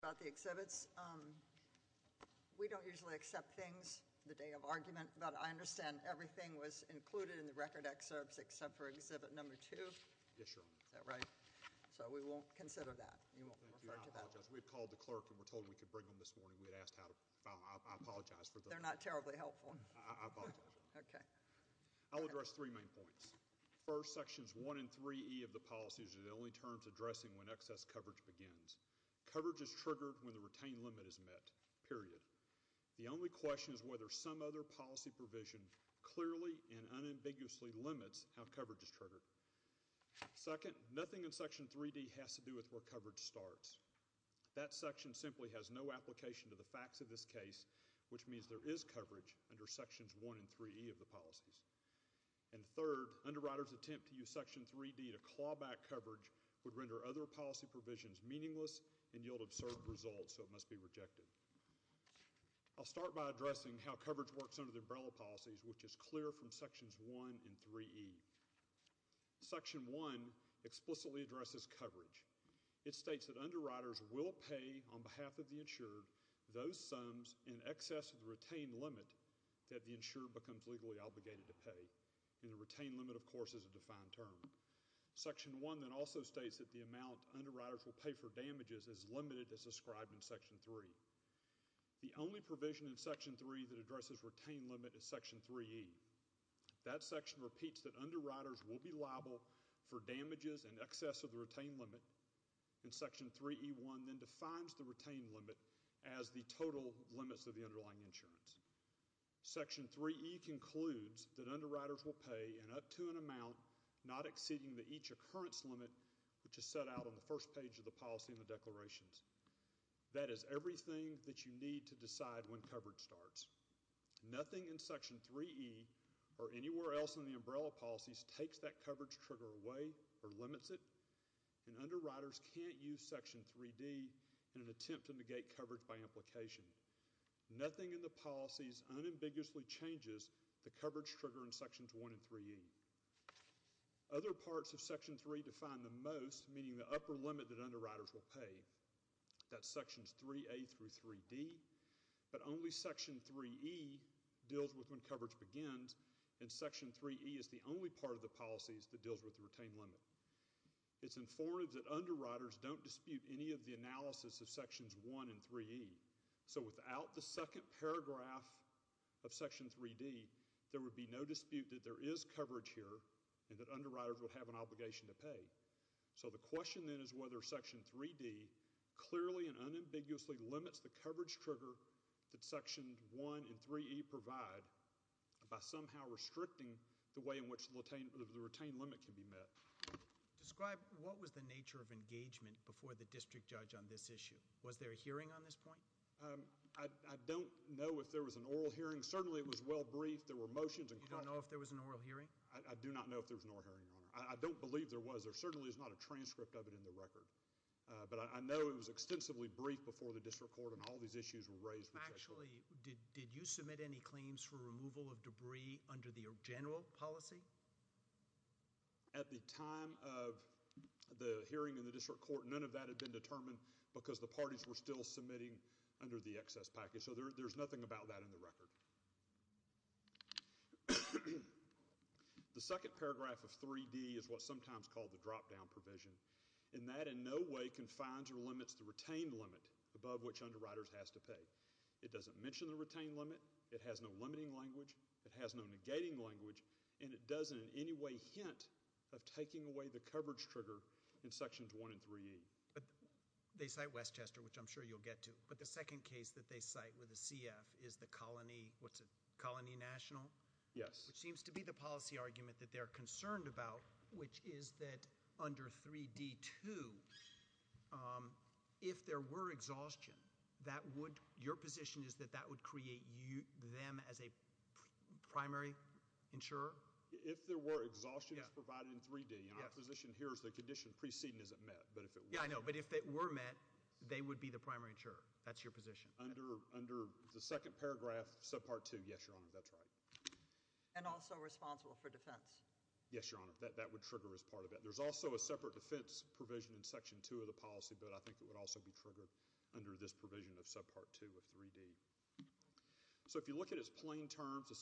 about the exhibits. We don't usually accept things the day of argument, but I understand everything was included in the record excerpts except for exhibit number two, right? So we won't consider that. We've called the clerk and we're told we could bring them this morning. We had asked how to apologize for they're not terribly helpful. Okay, I'll address three main points. First, sections one and three of the policies are the only terms addressing when excess coverage begins. Coverage is triggered when the retain limit is met, period. The only question is whether some other policy provision clearly and unambiguously limits how coverage is triggered. Second, nothing in section 3D has to do with where coverage starts. That section simply has no application to the facts of this case, which means there is coverage under sections one and 3E of the policies. And third, underwriters attempt to use section 3D to claw back coverage would render other policy provisions meaningless and yield absurd results, so it must be rejected. I'll start by addressing how coverage works under the umbrella policies, which is clear from sections one and 3E. Section one explicitly addresses coverage. It states that underwriters will pay on behalf of the insured those sums in excess of the retained limit that the insured becomes legally obligated to pay. And the underlying term. Section one then also states that the amount underwriters will pay for damages is limited as described in section three. The only provision in section three that addresses retained limit is section 3E. That section repeats that underwriters will be liable for damages in excess of the retained limit. And section 3E1 then defines the retained limit as the total limits of the underlying insurance. Section 3E concludes that underwriters will pay in up to an amount not exceeding the each occurrence limit, which is set out on the first page of the policy in the declarations. That is everything that you need to decide when coverage starts. Nothing in section 3E or anywhere else in the umbrella policies takes that coverage trigger away or limits it. And underwriters can't use section 3D in an attempt to negate coverage by implication. Nothing in the policies unambiguously changes the coverage trigger in sections one and 3E. Other parts of section three define the most, meaning the upper limit that underwriters will pay. That's sections 3A through 3D. But only section 3E deals with when coverage begins, and section 3E is the only part of the policies that deals with the retained limit. It's informative that underwriters don't dispute any of the there would be no dispute that there is coverage here, and that underwriters would have an obligation to pay. So the question then is whether section 3D clearly and unambiguously limits the coverage trigger that sections one and 3E provide by somehow restricting the way in which the retained limit can be met. Describe what was the nature of engagement before the district judge on this issue? Was there a hearing on this point? I don't know if there was an oral hearing. Certainly it was well-briefed. There were motions. You don't know if there was an oral hearing? I do not know if there was an oral hearing, Your Honor. I don't believe there was. There certainly is not a transcript of it in the record. But I know it was extensively briefed before the district court and all these issues were raised. Actually, did you submit any claims for removal of debris under the general policy? At the time of the hearing in the district court, none of that had been determined because the parties were still submitting under the excess package. So there's nothing about that in the record. The second paragraph of 3D is what's sometimes called the drop-down provision, and that in no way confines or limits the retained limit above which underwriters has to pay. It doesn't mention the retained limit. It has no limiting language. It has no negating language. And it doesn't in any way hint of taking away the coverage trigger in sections one and 3E. But they cite Westchester, which I'm sure you'll get to. But the second case that they cite with the CF is the Colony, what's it, Colony National? Yes. Which seems to be the policy argument that they're concerned about, which is that under 3D-2, if there were exhaustion, that would, your position is that that would create them as a primary insurer? If there were exhaustion as provided in 3D, and our position here is the condition preceding isn't met. Yeah, I know, but if it were met, they would be the primary insurer. That's your position. Under the second paragraph, subpart two, yes, Your Honor, that's right. And also responsible for defense. Yes, Your Honor, that would trigger as part of it. There's also a separate defense provision in section two of the policy, but I think it would also be triggered under this provision of subpart two of 3D. So if you look at it as plain terms, the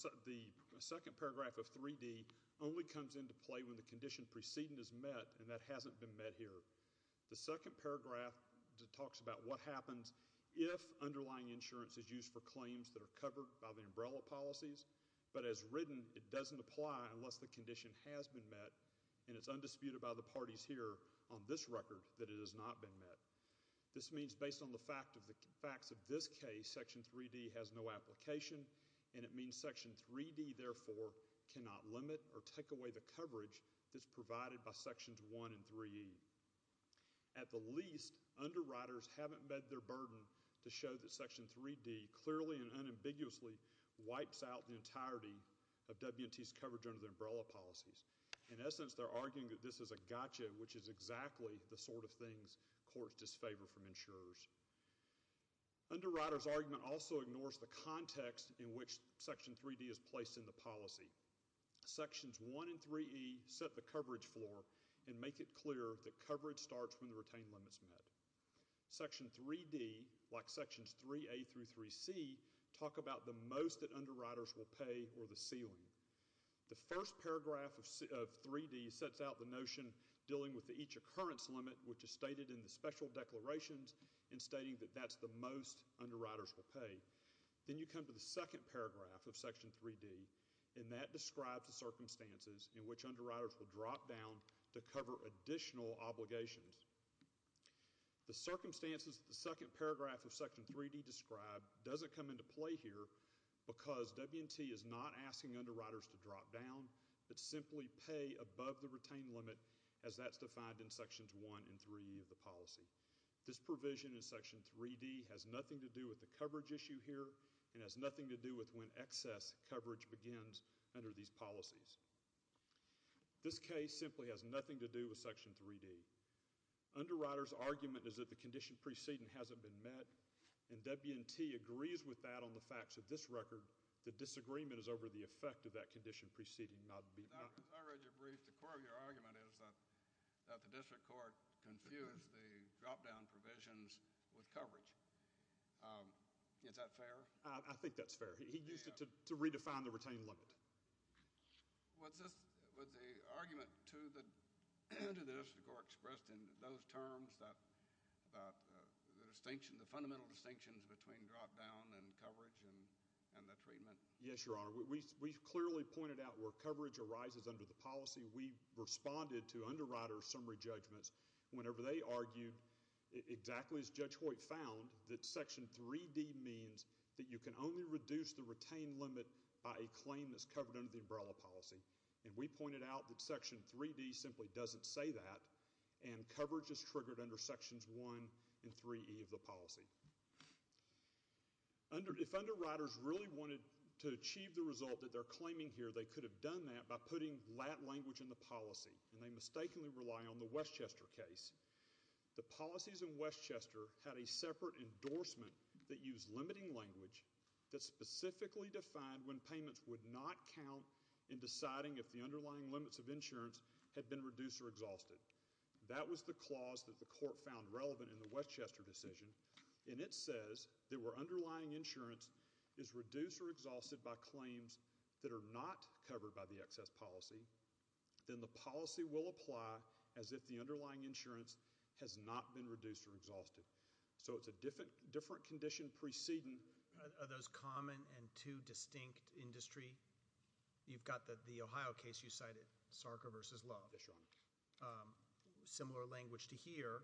second paragraph of 3D only comes into play when the condition preceding is met and that hasn't been met here. The second paragraph talks about what happens if underlying insurance is used for claims that are covered by the umbrella policies, but as written, it doesn't apply unless the condition has been met, and it's undisputed by the parties here on this record that it has not been met. This means based on the facts of this case, section 3D has no application, and it means section 3D, therefore, cannot limit or take away the coverage that's provided by sections one and 3E. At the least, underwriters haven't met their burden to show that section 3D clearly and unambiguously wipes out the entirety of W&T's coverage under the umbrella policies. In essence, they're arguing that this is a gotcha, which is exactly the sort of things courts disfavor from insurers. Underwriters' argument also floor and make it clear that coverage starts when the retained limit's met. Section 3D, like sections 3A through 3C, talk about the most that underwriters will pay or the ceiling. The first paragraph of 3D sets out the notion dealing with the each occurrence limit, which is stated in the special declarations and stating that that's the most underwriters will pay. Then you come to the second paragraph of section 3D, and that describes the circumstances in which underwriters will drop down to cover additional obligations. The circumstances of the second paragraph of section 3D described doesn't come into play here because W&T is not asking underwriters to drop down, but simply pay above the retained limit as that's defined in sections one and 3E of the policy. This provision in section 3D has nothing to do with the coverage issue here and has nothing to do with when excess coverage begins under these policies. This case simply has nothing to do with section 3D. Underwriters' argument is that the condition preceding hasn't been met, and W&T agrees with that on the facts of this record. The disagreement is over the effect of that condition preceding not being met. I read your brief. The core of your argument is that the district court confused the drop down provisions with coverage. Is that fair? I think that's fair. He used it to redefine the retained limit. Was the argument to the district court expressed in those terms about the distinction, the fundamental distinctions between drop down and coverage and the treatment? Yes, Your Honor. We clearly pointed out where coverage arises under the policy. We responded to underwriters' summary judgments whenever they argued exactly as Judge Hoyt found that you can only reduce the retained limit by a claim that's covered under the umbrella policy. We pointed out that section 3D simply doesn't say that, and coverage is triggered under sections 1 and 3E of the policy. If underwriters really wanted to achieve the result that they're claiming here, they could have done that by putting lat language in the policy, and they mistakenly rely on the Westchester case. The policies in Westchester had a separate endorsement that used limiting language that specifically defined when payments would not count in deciding if the underlying limits of insurance had been reduced or exhausted. That was the clause that the court found relevant in the Westchester decision, and it says that where underlying insurance is reduced or exhausted by claims that are not covered by the excess policy, then the policy will apply as if the underlying insurance has not been reduced or exhausted. So it's a different condition precedent. Are those common and two distinct industry? You've got the Ohio case you cited, Sarker v. Love. Yes, Your Honor. Similar language to here,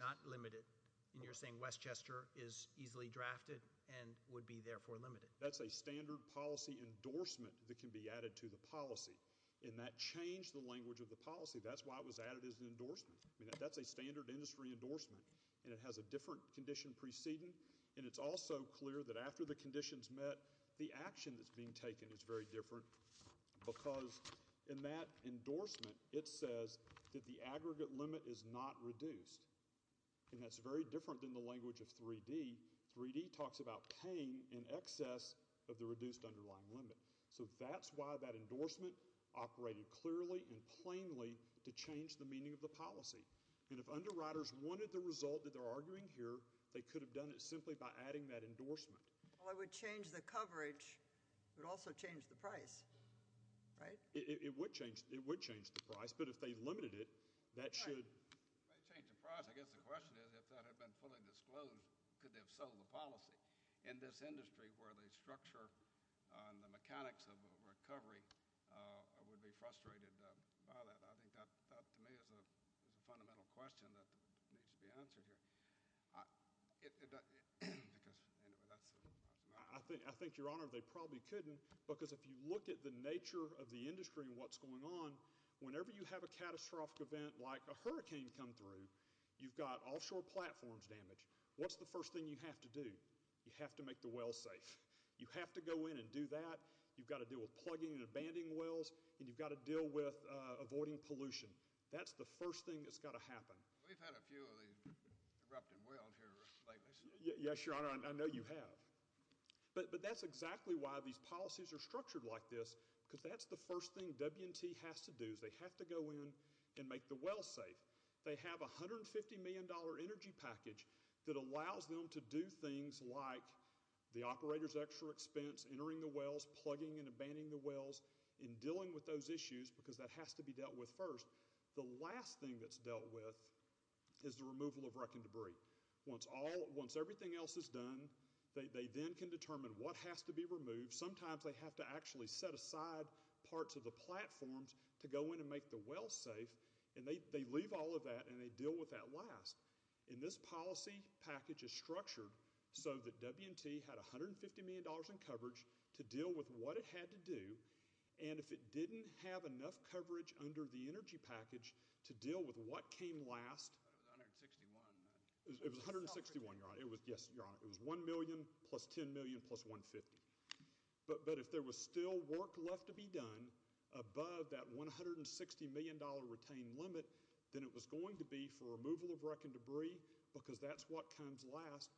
not limited, and you're saying Westchester is easily drafted and would be therefore limited. That's a standard policy endorsement that can be added to the policy, and that changed the language of the policy. That's why it was added as an endorsement. I mean, that's a standard industry endorsement, and it has a different condition precedent, and it's also clear that after the conditions met, the action that's being taken is very different because in that endorsement, it says that the aggregate limit is not reduced, and that's very different than the language of 3D. 3D talks about paying in excess of the reduced underlying limit. So that's why that endorsement operated clearly and plainly to change the policy, and if underwriters wanted the result that they're arguing here, they could have done it simply by adding that endorsement. Well, it would change the coverage, but it would also change the price, right? It would change the price, but if they limited it, that should... It may change the price. I guess the question is, if that had been fully disclosed, could they have sold the policy? In this industry where the structure and the mechanics of recovery would be frustrated by that? I think that, to me, is a fundamental question that needs to be answered here because, anyway, that's... I think, Your Honor, they probably couldn't because if you look at the nature of the industry and what's going on, whenever you have a catastrophic event like a hurricane come through, you've got offshore platforms damaged. What's the first thing you have to do? You have to make the wells safe. You have to go in and do that. You've got to deal with plugging and abandoning wells, and you've got to deal with avoiding pollution. That's the first thing that's got to happen. We've had a few of these erupting wells here lately. Yes, Your Honor, I know you have, but that's exactly why these policies are structured like this because that's the first thing W&T has to do is they have to go in and make the operators' extra expense, entering the wells, plugging and abandoning the wells, and dealing with those issues because that has to be dealt with first. The last thing that's dealt with is the removal of wreck and debris. Once everything else is done, they then can determine what has to be removed. Sometimes they have to actually set aside parts of the platforms to go in and make the wells safe, and they leave all of that and they deal with that last. This policy package is structured so that W&T had $150 million in coverage to deal with what it had to do, and if it didn't have enough coverage under the energy package to deal with what came last, it was $1 million plus $10 million plus $150 million, but if there was still work left to be done above that $160 million retained limit, then it was going to be for removal of wreck and debris because that's what comes last,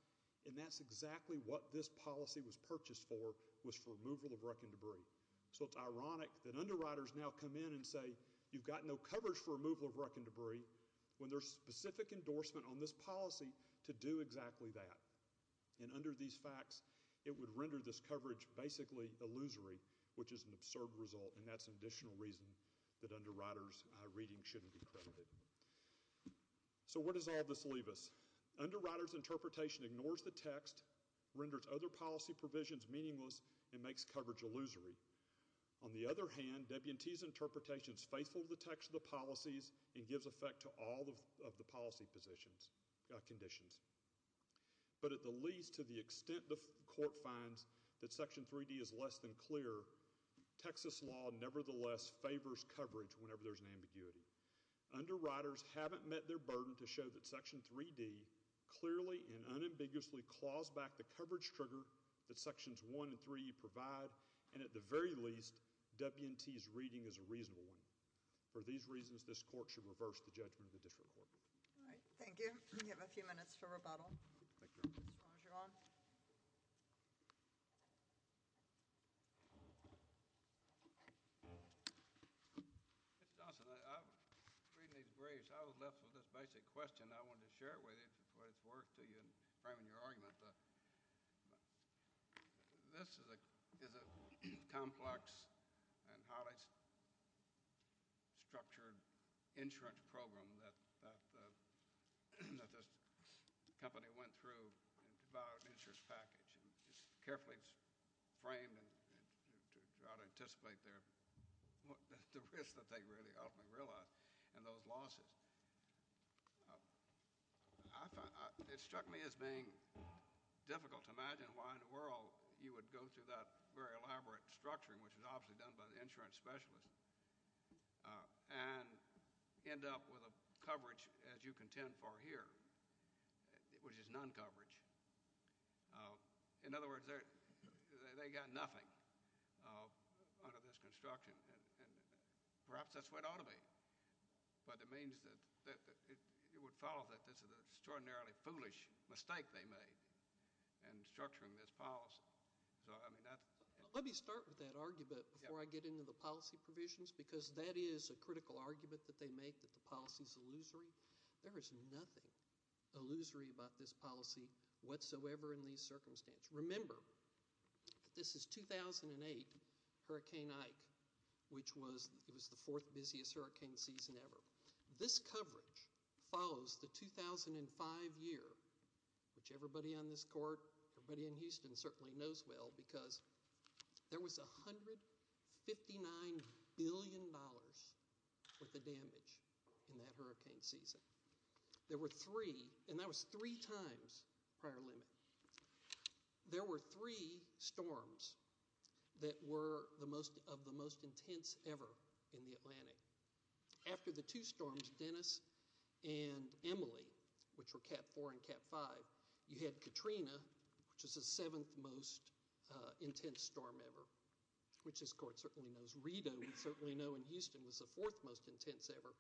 and that's exactly what this policy was purchased for, was for removal of wreck and debris. So it's ironic that underwriters now come in and say, you've got no coverage for removal of wreck and debris, when there's specific endorsement on this policy to do exactly that, and under these facts, it would render this coverage basically illusory, which is an absurd result, and that's an additional reason that underwriters' reading shouldn't be credited. So where does all this leave us? Underwriters' interpretation ignores the text, renders other policy provisions meaningless, and makes coverage illusory. On the other hand, W&T's interpretation is faithful to the text of the policies and gives effect to all of the policy conditions, but at the least, to the extent the court finds that Section 3D is less than clear, Texas law nevertheless favors coverage whenever there's an ambiguity. Underwriters haven't met their burden to show that Section 3D clearly and unambiguously claws back the coverage trigger that Sections 1 and 3 provide, and at the very least, W&T's reading is a reasonable one. For these reasons, this court should reverse the judgment of the district court. We have a few minutes for rebuttal. Mr. Roger, you're on. Mr. Johnson, reading these briefs, I was left with this basic question. I wanted to share it with you before it's worth framing your argument. This is a complex and highly structured insurance program that this company went through to buy an insurance package. It's carefully framed to try to anticipate the risks that they really ultimately realize and those losses. It struck me as being difficult to imagine why in the world you would go through that very elaborate structuring, which was obviously done by the insurance specialist, and end up with a coverage, as you contend for here, which is none coverage. In other words, they got nothing under this construction. Perhaps that's the way it ought to be, but it would follow that this is an extraordinarily foolish mistake they made in structuring this policy. Let me start with that argument before I get into the policy provisions, because that is a critical argument that they make, that the policy is illusory. There is nothing illusory about this policy whatsoever in these circumstances. Just remember that this is 2008 Hurricane Ike, which was the fourth busiest hurricane season ever. This coverage follows the 2005 year, which everybody on this court, everybody in Houston certainly knows well, because there was $159 billion worth of damage in that hurricane season. There were three, and that was three times prior limit, there were three storms that were of the most intense ever in the Atlantic. After the two storms, Dennis and Emily, which were Cat 4 and Cat 5, you had Katrina, which was the seventh most intense storm ever, which this court certainly knows. Rita, we certainly know in Houston, was the fourth most intense ever.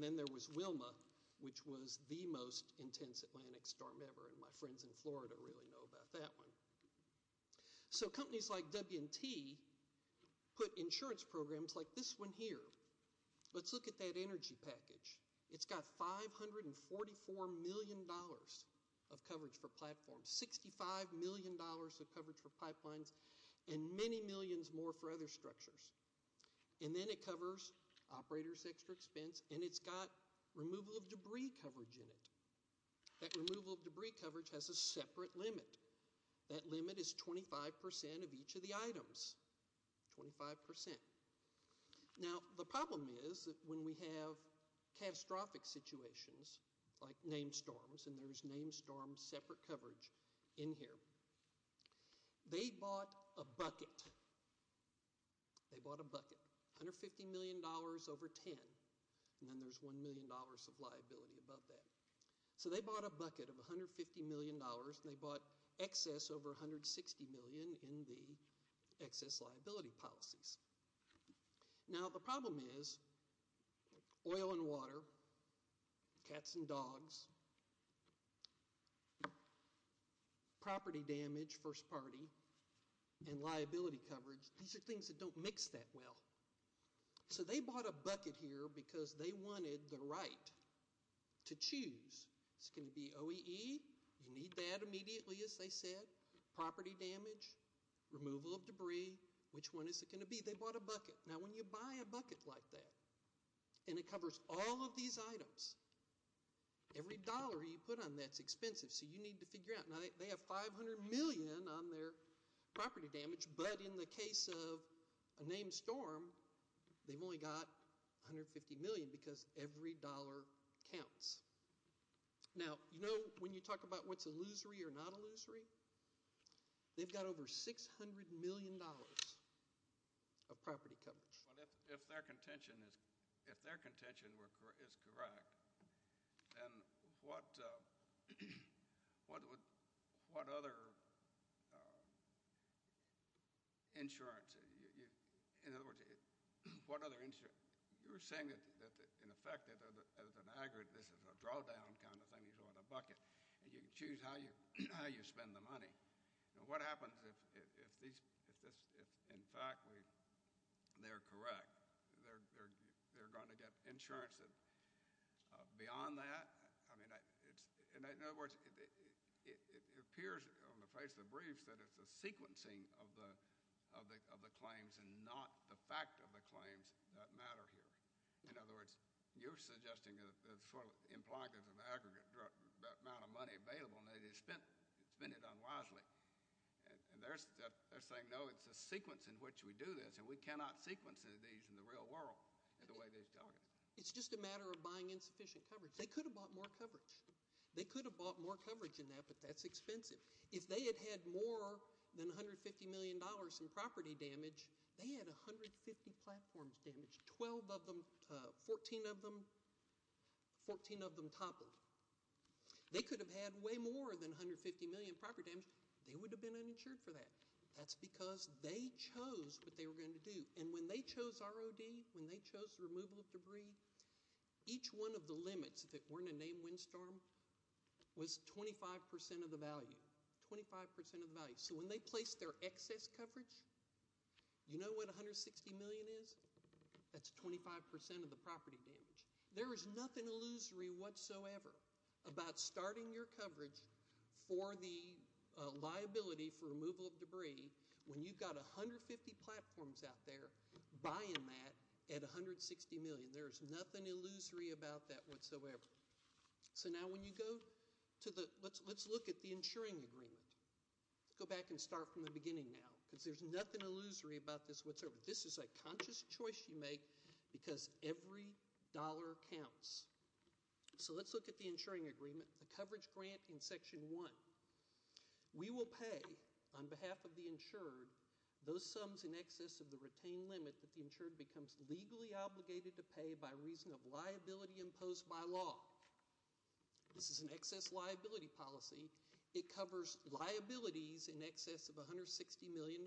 Then there was Wilma, which was the most intense Atlantic storm ever, and my friends in Florida really know about that one. Companies like W&T put insurance programs like this one here. Let's look at that energy package. It's got $544 million of coverage for platforms, $65 million of coverage for pipelines, and many millions more for other structures. Then it covers operator's extra expense, and it's got removal of debris coverage in it. That removal of debris coverage has a separate limit. That limit is 25% of each of the items, 25%. Now, the problem is that when we have catastrophic situations, like named storms, and there's named storm separate coverage in here, they bought a bucket. They bought a bucket, $150 million over 10, and then there's $1 million of liability above that. They bought a bucket of $150 million, and they bought excess over $160 million in the excess liability policies. Now, the problem is oil and water, cats and dogs, property damage, first party, and liability coverage, these are things that don't mix that well. They bought a bucket here because they wanted the right to choose. It's going to be OEE, you need that immediately, as they said, property damage, removal of debris, and they bought a bucket. Now, when you buy a bucket like that, and it covers all of these items, every dollar you put on that's expensive, so you need to figure out. Now, they have $500 million on their property damage, but in the case of a named storm, they've only got $150 million because every dollar counts. Now, you know when you talk about what's illusory or not illusory? They've got over $600 million of property coverage. If their contention is correct, then what other insurance? In other words, what other insurance? You were saying that, in effect, as an aggregate, this is a drawdown kind of thing. You can choose how you spend the money. Now, what happens if, in fact, they're correct? They're going to get insurance beyond that? I mean, in other words, it appears on the face of the briefs that it's the sequencing of the claims and not the fact of the claims that matter here. In other words, you're suggesting that it's sort of implied that there's an aggregate amount of money available, and they just spend it unwisely. And they're saying, no, it's the sequence in which we do this, and we cannot sequence these in the real world the way they're talking. It's just a matter of buying insufficient coverage. They could have bought more coverage. They could have bought more coverage in that, but that's expensive. If they had had more than $150 million in property damage, they had 150 platforms damaged, 12 of them, 14 of them toppled. They could have had way more than $150 million in property damage. They would have been uninsured for that. That's because they chose what they were going to do. And when they chose ROD, when they chose the removal of debris, each one of the limits, if it weren't a named windstorm, was 25% of the value, 25% of the value. So when they place their excess coverage, you know what $160 million is? That's 25% of the property damage. There is nothing illusory whatsoever about starting your coverage for the liability for removal of debris when you've got 150 platforms out there buying that at $160 million. There is nothing illusory about that whatsoever. So now when you go to the – let's look at the insuring agreement. Go back and start from the beginning now because there's nothing illusory about this whatsoever. This is a conscious choice you make because every dollar counts. So let's look at the insuring agreement, the coverage grant in Section 1. We will pay on behalf of the insured those sums in excess of the retained limit that the insured becomes legally obligated to pay by reason of liability imposed by law. This is an excess liability policy. It covers liabilities in excess of $160 million.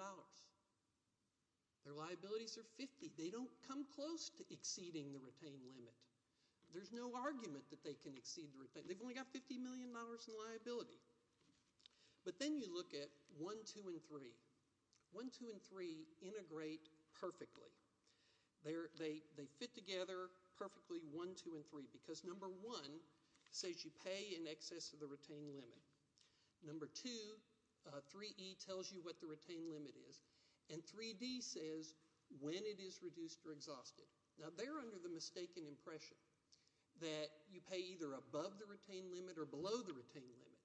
Their liabilities are 50. They don't come close to exceeding the retained limit. There's no argument that they can exceed the retained limit. They've only got $50 million in liability. But then you look at 1, 2, and 3. 1, 2, and 3 integrate perfectly. They fit together perfectly, 1, 2, and 3, because number 1 says you pay in excess of the retained limit. Number 2, 3E tells you what the retained limit is. And 3D says when it is reduced or exhausted. Now they're under the mistaken impression that you pay either above the retained limit or below the retained limit.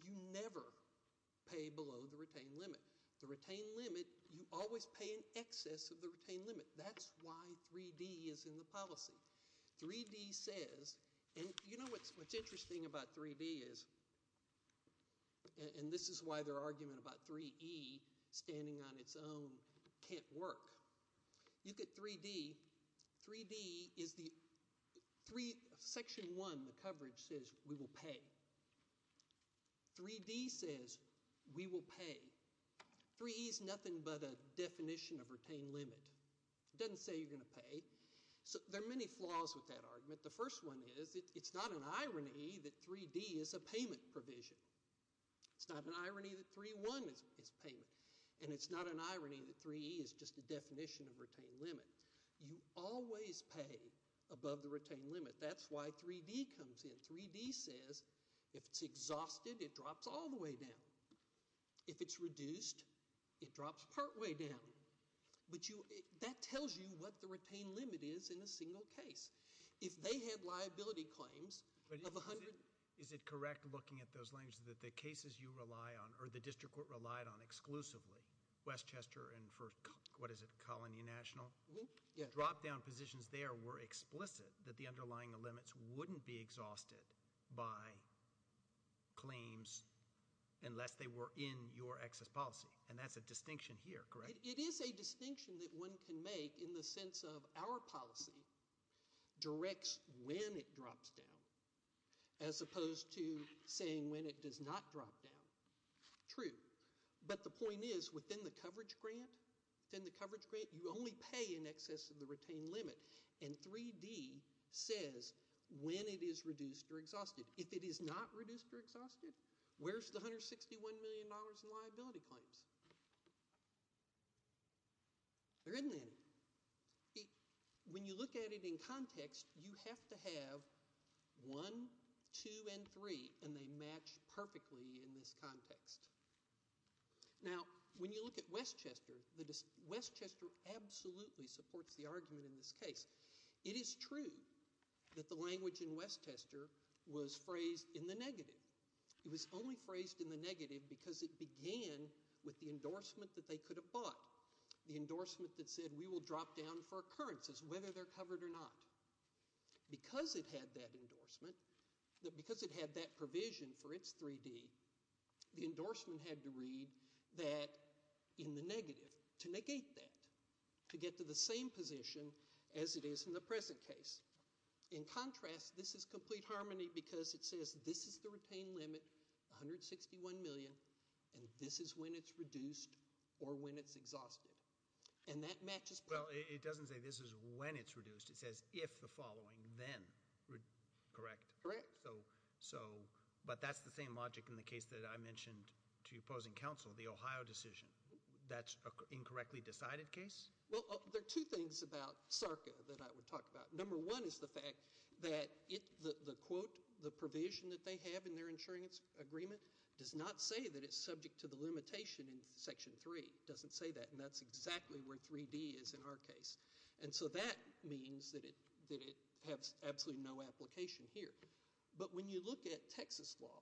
You never pay below the retained limit. The retained limit, you always pay in excess of the retained limit. That's why 3D is in the policy. 3D says, and you know what's interesting about 3D is, and this is why their argument about 3E standing on its own can't work. You get 3D. 3D is the section 1, the coverage, says we will pay. 3D says we will pay. 3E is nothing but a definition of retained limit. It doesn't say you're going to pay. There are many flaws with that argument. The first one is it's not an irony that 3D is a payment provision. It's not an irony that 3.1 is payment. And it's not an irony that 3E is just a definition of retained limit. You always pay above the retained limit. That's why 3D comes in. And 3D says if it's exhausted, it drops all the way down. If it's reduced, it drops partway down. But that tells you what the retained limit is in a single case. If they had liability claims of 100. Is it correct looking at those limits that the cases you rely on or the district court relied on exclusively, Westchester and for, what is it, Colony National? Yeah. Drop-down positions there were explicit that the underlying limits wouldn't be exhausted by claims unless they were in your excess policy. And that's a distinction here, correct? It is a distinction that one can make in the sense of our policy directs when it drops down as opposed to saying when it does not drop down. True. But the point is within the coverage grant, within the coverage grant, you only pay in excess of the retained limit. And 3D says when it is reduced or exhausted. If it is not reduced or exhausted, where's the $161 million in liability claims? There isn't any. When you look at it in context, you have to have one, two, and three, and they match perfectly in this context. Now, when you look at Westchester, Westchester absolutely supports the argument in this case. It is true that the language in Westchester was phrased in the negative. It was only phrased in the negative because it began with the endorsement that they could have bought, the endorsement that said we will drop down for occurrences, whether they're covered or not. Because it had that endorsement, because it had that provision for its 3D, the endorsement had to read that in the negative to negate that, to get to the same position as it is in the present case. In contrast, this is complete harmony because it says this is the retained limit, $161 million, and this is when it's reduced or when it's exhausted. And that matches perfectly. Well, it doesn't say this is when it's reduced. It says if the following, then, correct? Correct. So, but that's the same logic in the case that I mentioned to opposing counsel, the Ohio decision. That's an incorrectly decided case? Well, there are two things about SARCA that I would talk about. Number one is the fact that the quote, the provision that they have in their insurance agreement does not say that it's subject to the limitation in Section 3. It doesn't say that, and that's exactly where 3D is in our case. And so that means that it has absolutely no application here. But when you look at Texas law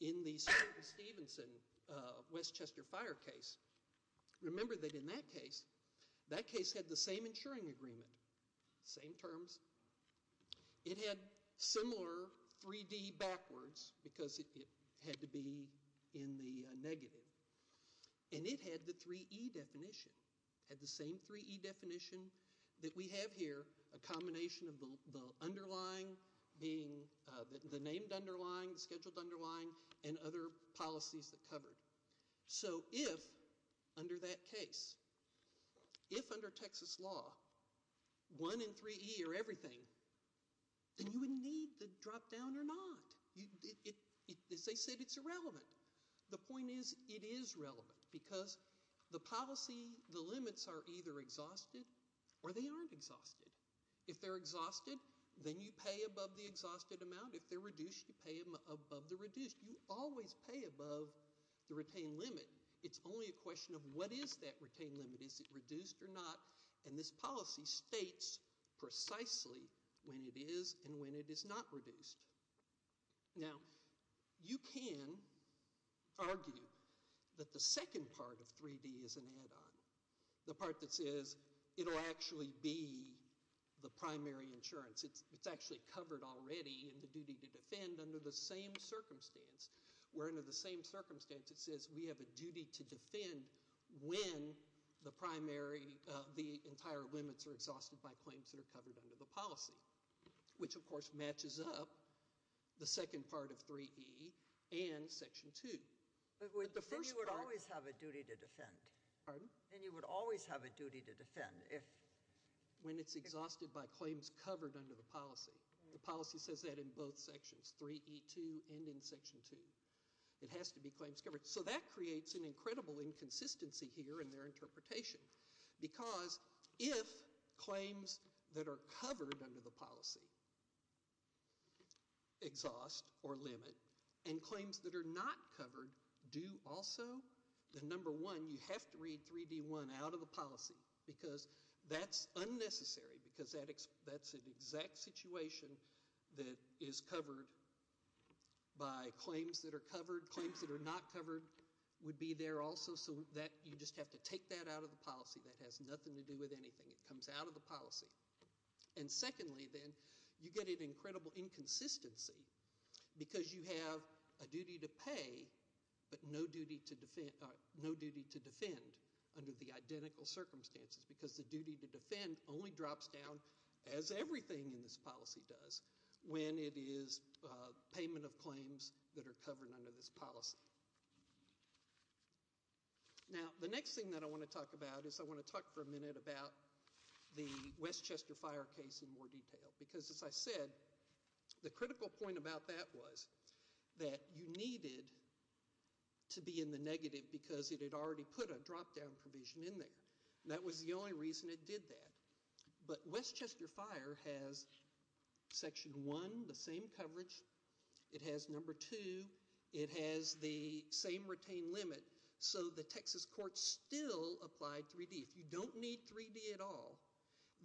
in the Stevenson-Westchester fire case, remember that in that case, that case had the same insuring agreement, same terms. It had similar 3D backwards because it had to be in the negative. And it had the 3E definition, had the same 3E definition that we have here, a combination of the underlying being the named underlying, scheduled underlying, and other policies that covered. So if, under that case, if under Texas law, 1 and 3E are everything, then you would need the drop down or not. As I said, it's irrelevant. The point is it is relevant because the policy, the limits are either exhausted or they aren't exhausted. If they're exhausted, then you pay above the exhausted amount. If they're reduced, you pay above the reduced. You always pay above the retained limit. It's only a question of what is that retained limit. Is it reduced or not? And this policy states precisely when it is and when it is not reduced. Now, you can argue that the second part of 3D is an add-on. The part that says it will actually be the primary insurance. It's actually covered already in the duty to defend under the same circumstance. Where under the same circumstance it says we have a duty to defend when the primary, the entire limits are exhausted by claims that are covered under the policy. Which, of course, matches up the second part of 3E and Section 2. But then you would always have a duty to defend. Pardon? Then you would always have a duty to defend. When it's exhausted by claims covered under the policy. The policy says that in both sections, 3E2 and in Section 2. It has to be claims covered. So that creates an incredible inconsistency here in their interpretation. Because if claims that are covered under the policy exhaust or limit and claims that are not covered do also. Then, number one, you have to read 3D1 out of the policy because that's unnecessary. Because that's an exact situation that is covered by claims that are covered. Claims that are not covered would be there also. So you just have to take that out of the policy. That has nothing to do with anything. It comes out of the policy. And secondly, then, you get an incredible inconsistency because you have a duty to pay but no duty to defend under the identical circumstances. Because the duty to defend only drops down as everything in this policy does when it is payment of claims that are covered under this policy. Now, the next thing that I want to talk about is I want to talk for a minute about the Westchester fire case in more detail. Because as I said, the critical point about that was that you needed to be in the negative because it had already put a drop-down provision in there. And that was the only reason it did that. But Westchester fire has section one, the same coverage. It has number two. It has the same retained limit. So the Texas court still applied 3D. If you don't need 3D at all,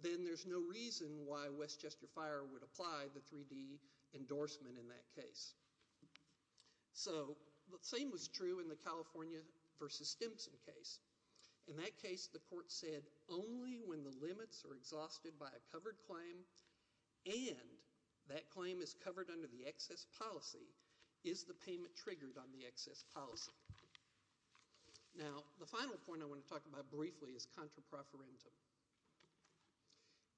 then there's no reason why Westchester fire would apply the 3D endorsement in that case. So the same was true in the California versus Stimson case. In that case, the court said only when the limits are exhausted by a covered claim and that claim is covered under the excess policy is the payment triggered on the excess policy. Now, the final point I want to talk about briefly is contra proferentum.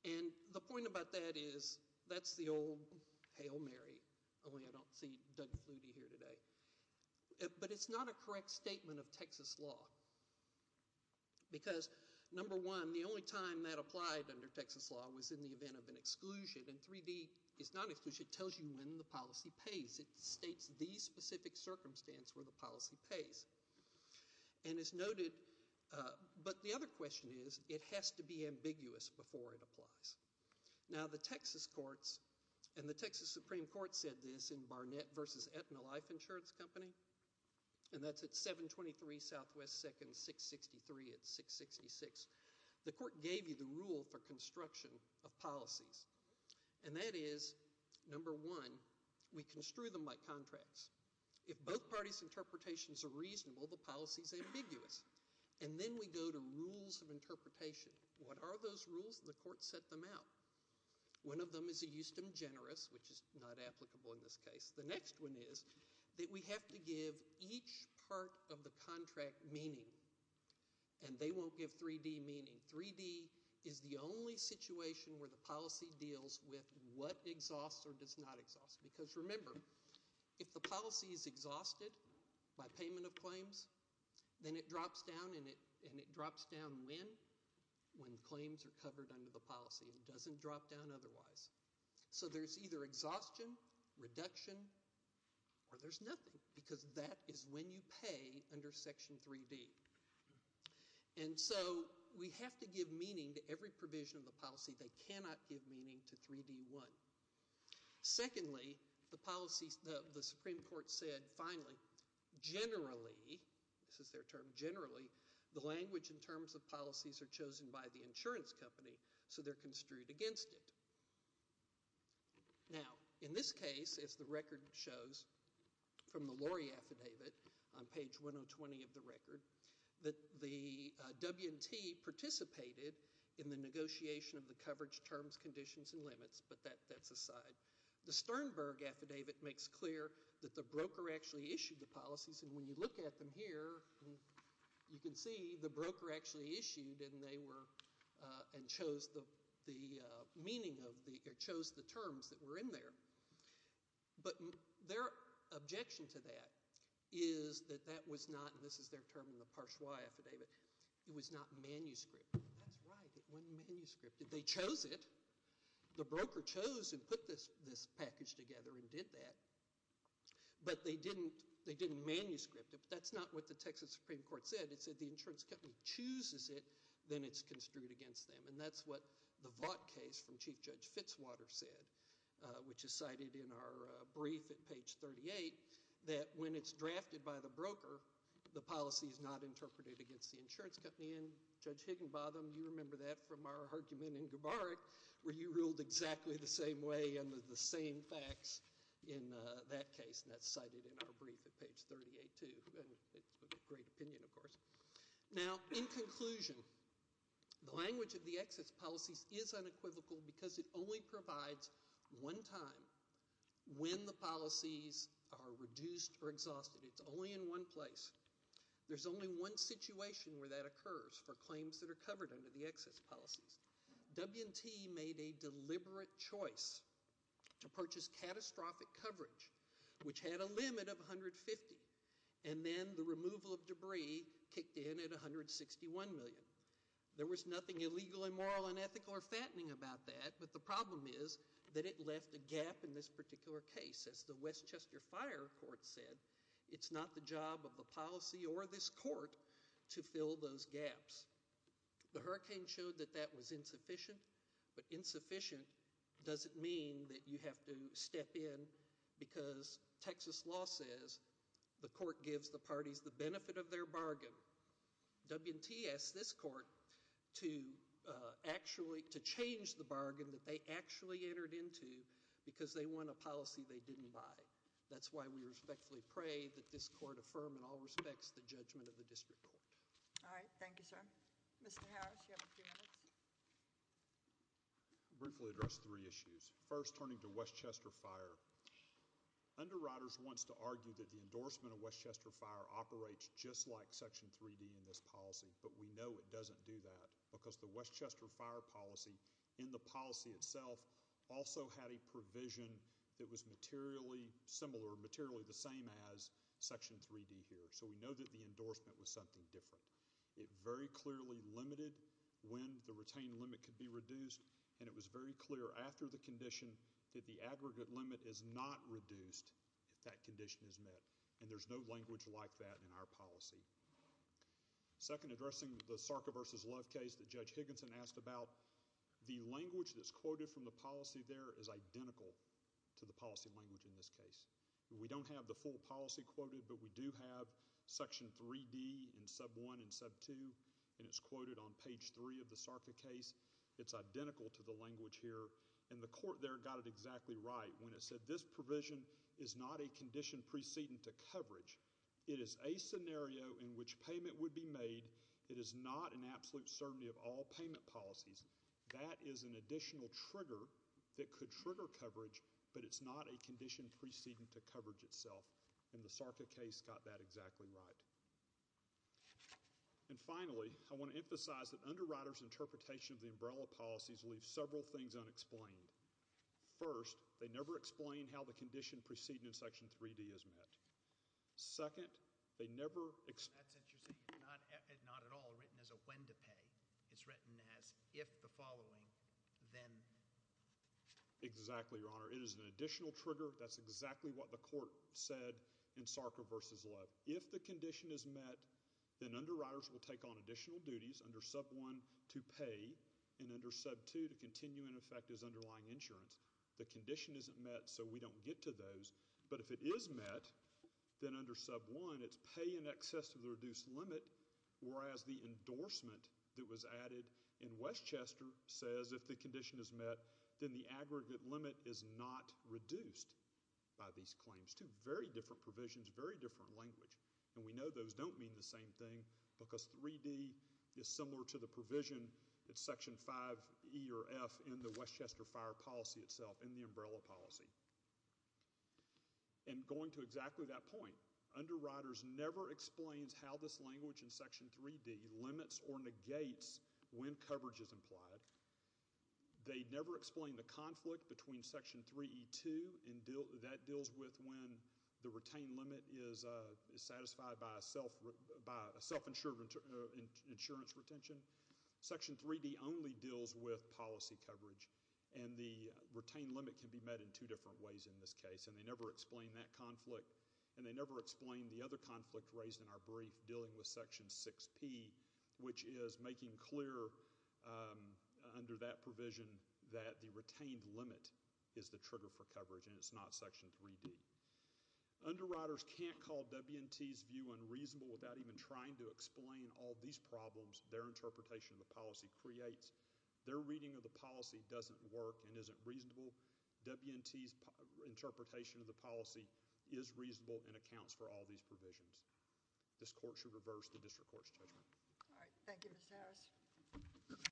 And the point about that is that's the old Hail Mary, only I don't see Doug Flutie here today. But it's not a correct statement of Texas law. Because number one, the only time that applied under Texas law was in the event of an exclusion. And 3D is not an exclusion. It tells you when the policy pays. It states these specific circumstances where the policy pays. And as noted, but the other question is it has to be ambiguous before it applies. Now, the Texas courts and the Texas Supreme Court said this in Barnett versus Aetna Life Insurance Company. And that's at 723 SW 2nd 663 at 666. The court gave you the rule for construction of policies. And that is number one, we construe them by contracts. If both parties' interpretations are reasonable, the policy is ambiguous. And then we go to rules of interpretation. What are those rules? And the court set them out. One of them is a justum generis, which is not applicable in this case. The next one is that we have to give each part of the contract meaning. And they won't give 3D meaning. 3D is the only situation where the policy deals with what exhausts or does not exhaust. Because remember, if the policy is exhausted by payment of claims, then it drops down. And it drops down when? When claims are covered under the policy. It doesn't drop down otherwise. So there's either exhaustion, reduction, or there's nothing. Because that is when you pay under Section 3D. And so we have to give meaning to every provision of the policy. They cannot give meaning to 3D1. Secondly, the Supreme Court said, finally, generally, this is their term, generally, the language and terms of policies are chosen by the insurance company. So they're construed against it. Now, in this case, as the record shows from the Lori affidavit on page 120 of the record, that the W&T participated in the negotiation of the coverage terms, conditions, and limits. But that's aside. The Sternberg affidavit makes clear that the broker actually issued the policies. And when you look at them here, you can see the broker actually issued and they were, and chose the meaning of the, or chose the terms that were in there. But their objection to that is that that was not, and this is their term in the Parchois affidavit, it was not manuscript. That's right, it wasn't manuscript. They chose it. The broker chose and put this package together and did that. But they didn't, they didn't manuscript it. That's not what the Texas Supreme Court said. It said the insurance company chooses it, then it's construed against them. And that's what the Vought case from Chief Judge Fitzwater said, which is cited in our brief at page 38, that when it's drafted by the broker, the policy is not interpreted against the insurance company. And Judge Higginbotham, you remember that from our argument in Gubarek, where you ruled exactly the same way and the same facts in that case. And that's cited in our brief at page 38 too. And it's a great opinion, of course. Now, in conclusion, the language of the excess policies is unequivocal because it only provides one time when the policies are reduced or exhausted. It's only in one place. There's only one situation where that occurs for claims that are covered under the excess policies. W&T made a deliberate choice to purchase catastrophic coverage, which had a limit of 150, and then the removal of debris kicked in at 161 million. There was nothing illegal, immoral, unethical, or fattening about that, but the problem is that it left a gap in this particular case. As the Westchester Fire Court said, it's not the job of the policy or this court to fill those gaps. The hurricane showed that that was insufficient, but insufficient doesn't mean that you have to step in because Texas law says the court gives the parties the benefit of their bargain. W&T asked this court to actually change the bargain that they actually entered into because they want a policy they didn't buy. That's why we respectfully pray that this court affirm in all respects the judgment of the district court. All right. Thank you, sir. Mr. Harris, you have a few minutes. I'll briefly address three issues. First, turning to Westchester Fire, Underwriters wants to argue that the endorsement of Westchester Fire operates just like Section 3D in this policy, but we know it doesn't do that because the Westchester Fire policy in the policy itself also had a provision that was materially similar, materially the same as Section 3D here, so we know that the endorsement was something different. It very clearly limited when the retained limit could be reduced, and it was very clear after the condition that the aggregate limit is not reduced if that condition is met, and there's no language like that in our policy. Second, addressing the Sarka v. Love case that Judge Higginson asked about, the language that's quoted from the policy there is identical to the policy language in this case. We don't have the full policy quoted, but we do have Section 3D in sub 1 and sub 2, and it's quoted on page 3 of the Sarka case. It's identical to the language here, and the court there got it exactly right when it said this provision is not a condition preceding to coverage. It is a scenario in which payment would be made. It is not an absolute certainty of all payment policies. That is an additional trigger that could trigger coverage, but it's not a condition preceding to coverage itself, and the Sarka case got that exactly right. And finally, I want to emphasize that underwriters' interpretation of the umbrella policies leave several things unexplained. First, they never explain how the condition preceding in Section 3D is met. Second, they never explain— That's interesting. It's not at all written as a when to pay. It's written as if the following, then. Exactly, Your Honor. It is an additional trigger. That's exactly what the court said in Sarka v. Love. If the condition is met, then underwriters will take on additional duties under sub 1 to pay and under sub 2 to continue in effect as underlying insurance. The condition isn't met, so we don't get to those. But if it is met, then under sub 1, it's pay in excess of the reduced limit, whereas the endorsement that was added in Westchester says if the condition is met, then the aggregate limit is not reduced by these claims. Two very different provisions, very different language, and we know those don't mean the same thing because 3D is similar to the provision at Section 5E or F in the Westchester fire policy itself, in the umbrella policy. And going to exactly that point, underwriters never explains how this language in Section 3D limits or negates when coverage is implied. They never explain the conflict between Section 3E2, and that deals with when the retained limit is satisfied by a self-insured insurance retention. Section 3D only deals with policy coverage, and the retained limit can be met in two different ways in this case, and they never explain that conflict, and they never explain the other conflict raised in our brief dealing with Section 6P, which is making clear under that provision that the retained limit is the trigger for coverage, and it's not Section 3D. Underwriters can't call W&T's view unreasonable without even trying to explain all these problems their interpretation of the policy creates. Their reading of the policy doesn't work and isn't reasonable. W&T's interpretation of the policy is reasonable and accounts for all these provisions. This court should reverse the district court's judgment. All right. Thank you, Mr. Harris.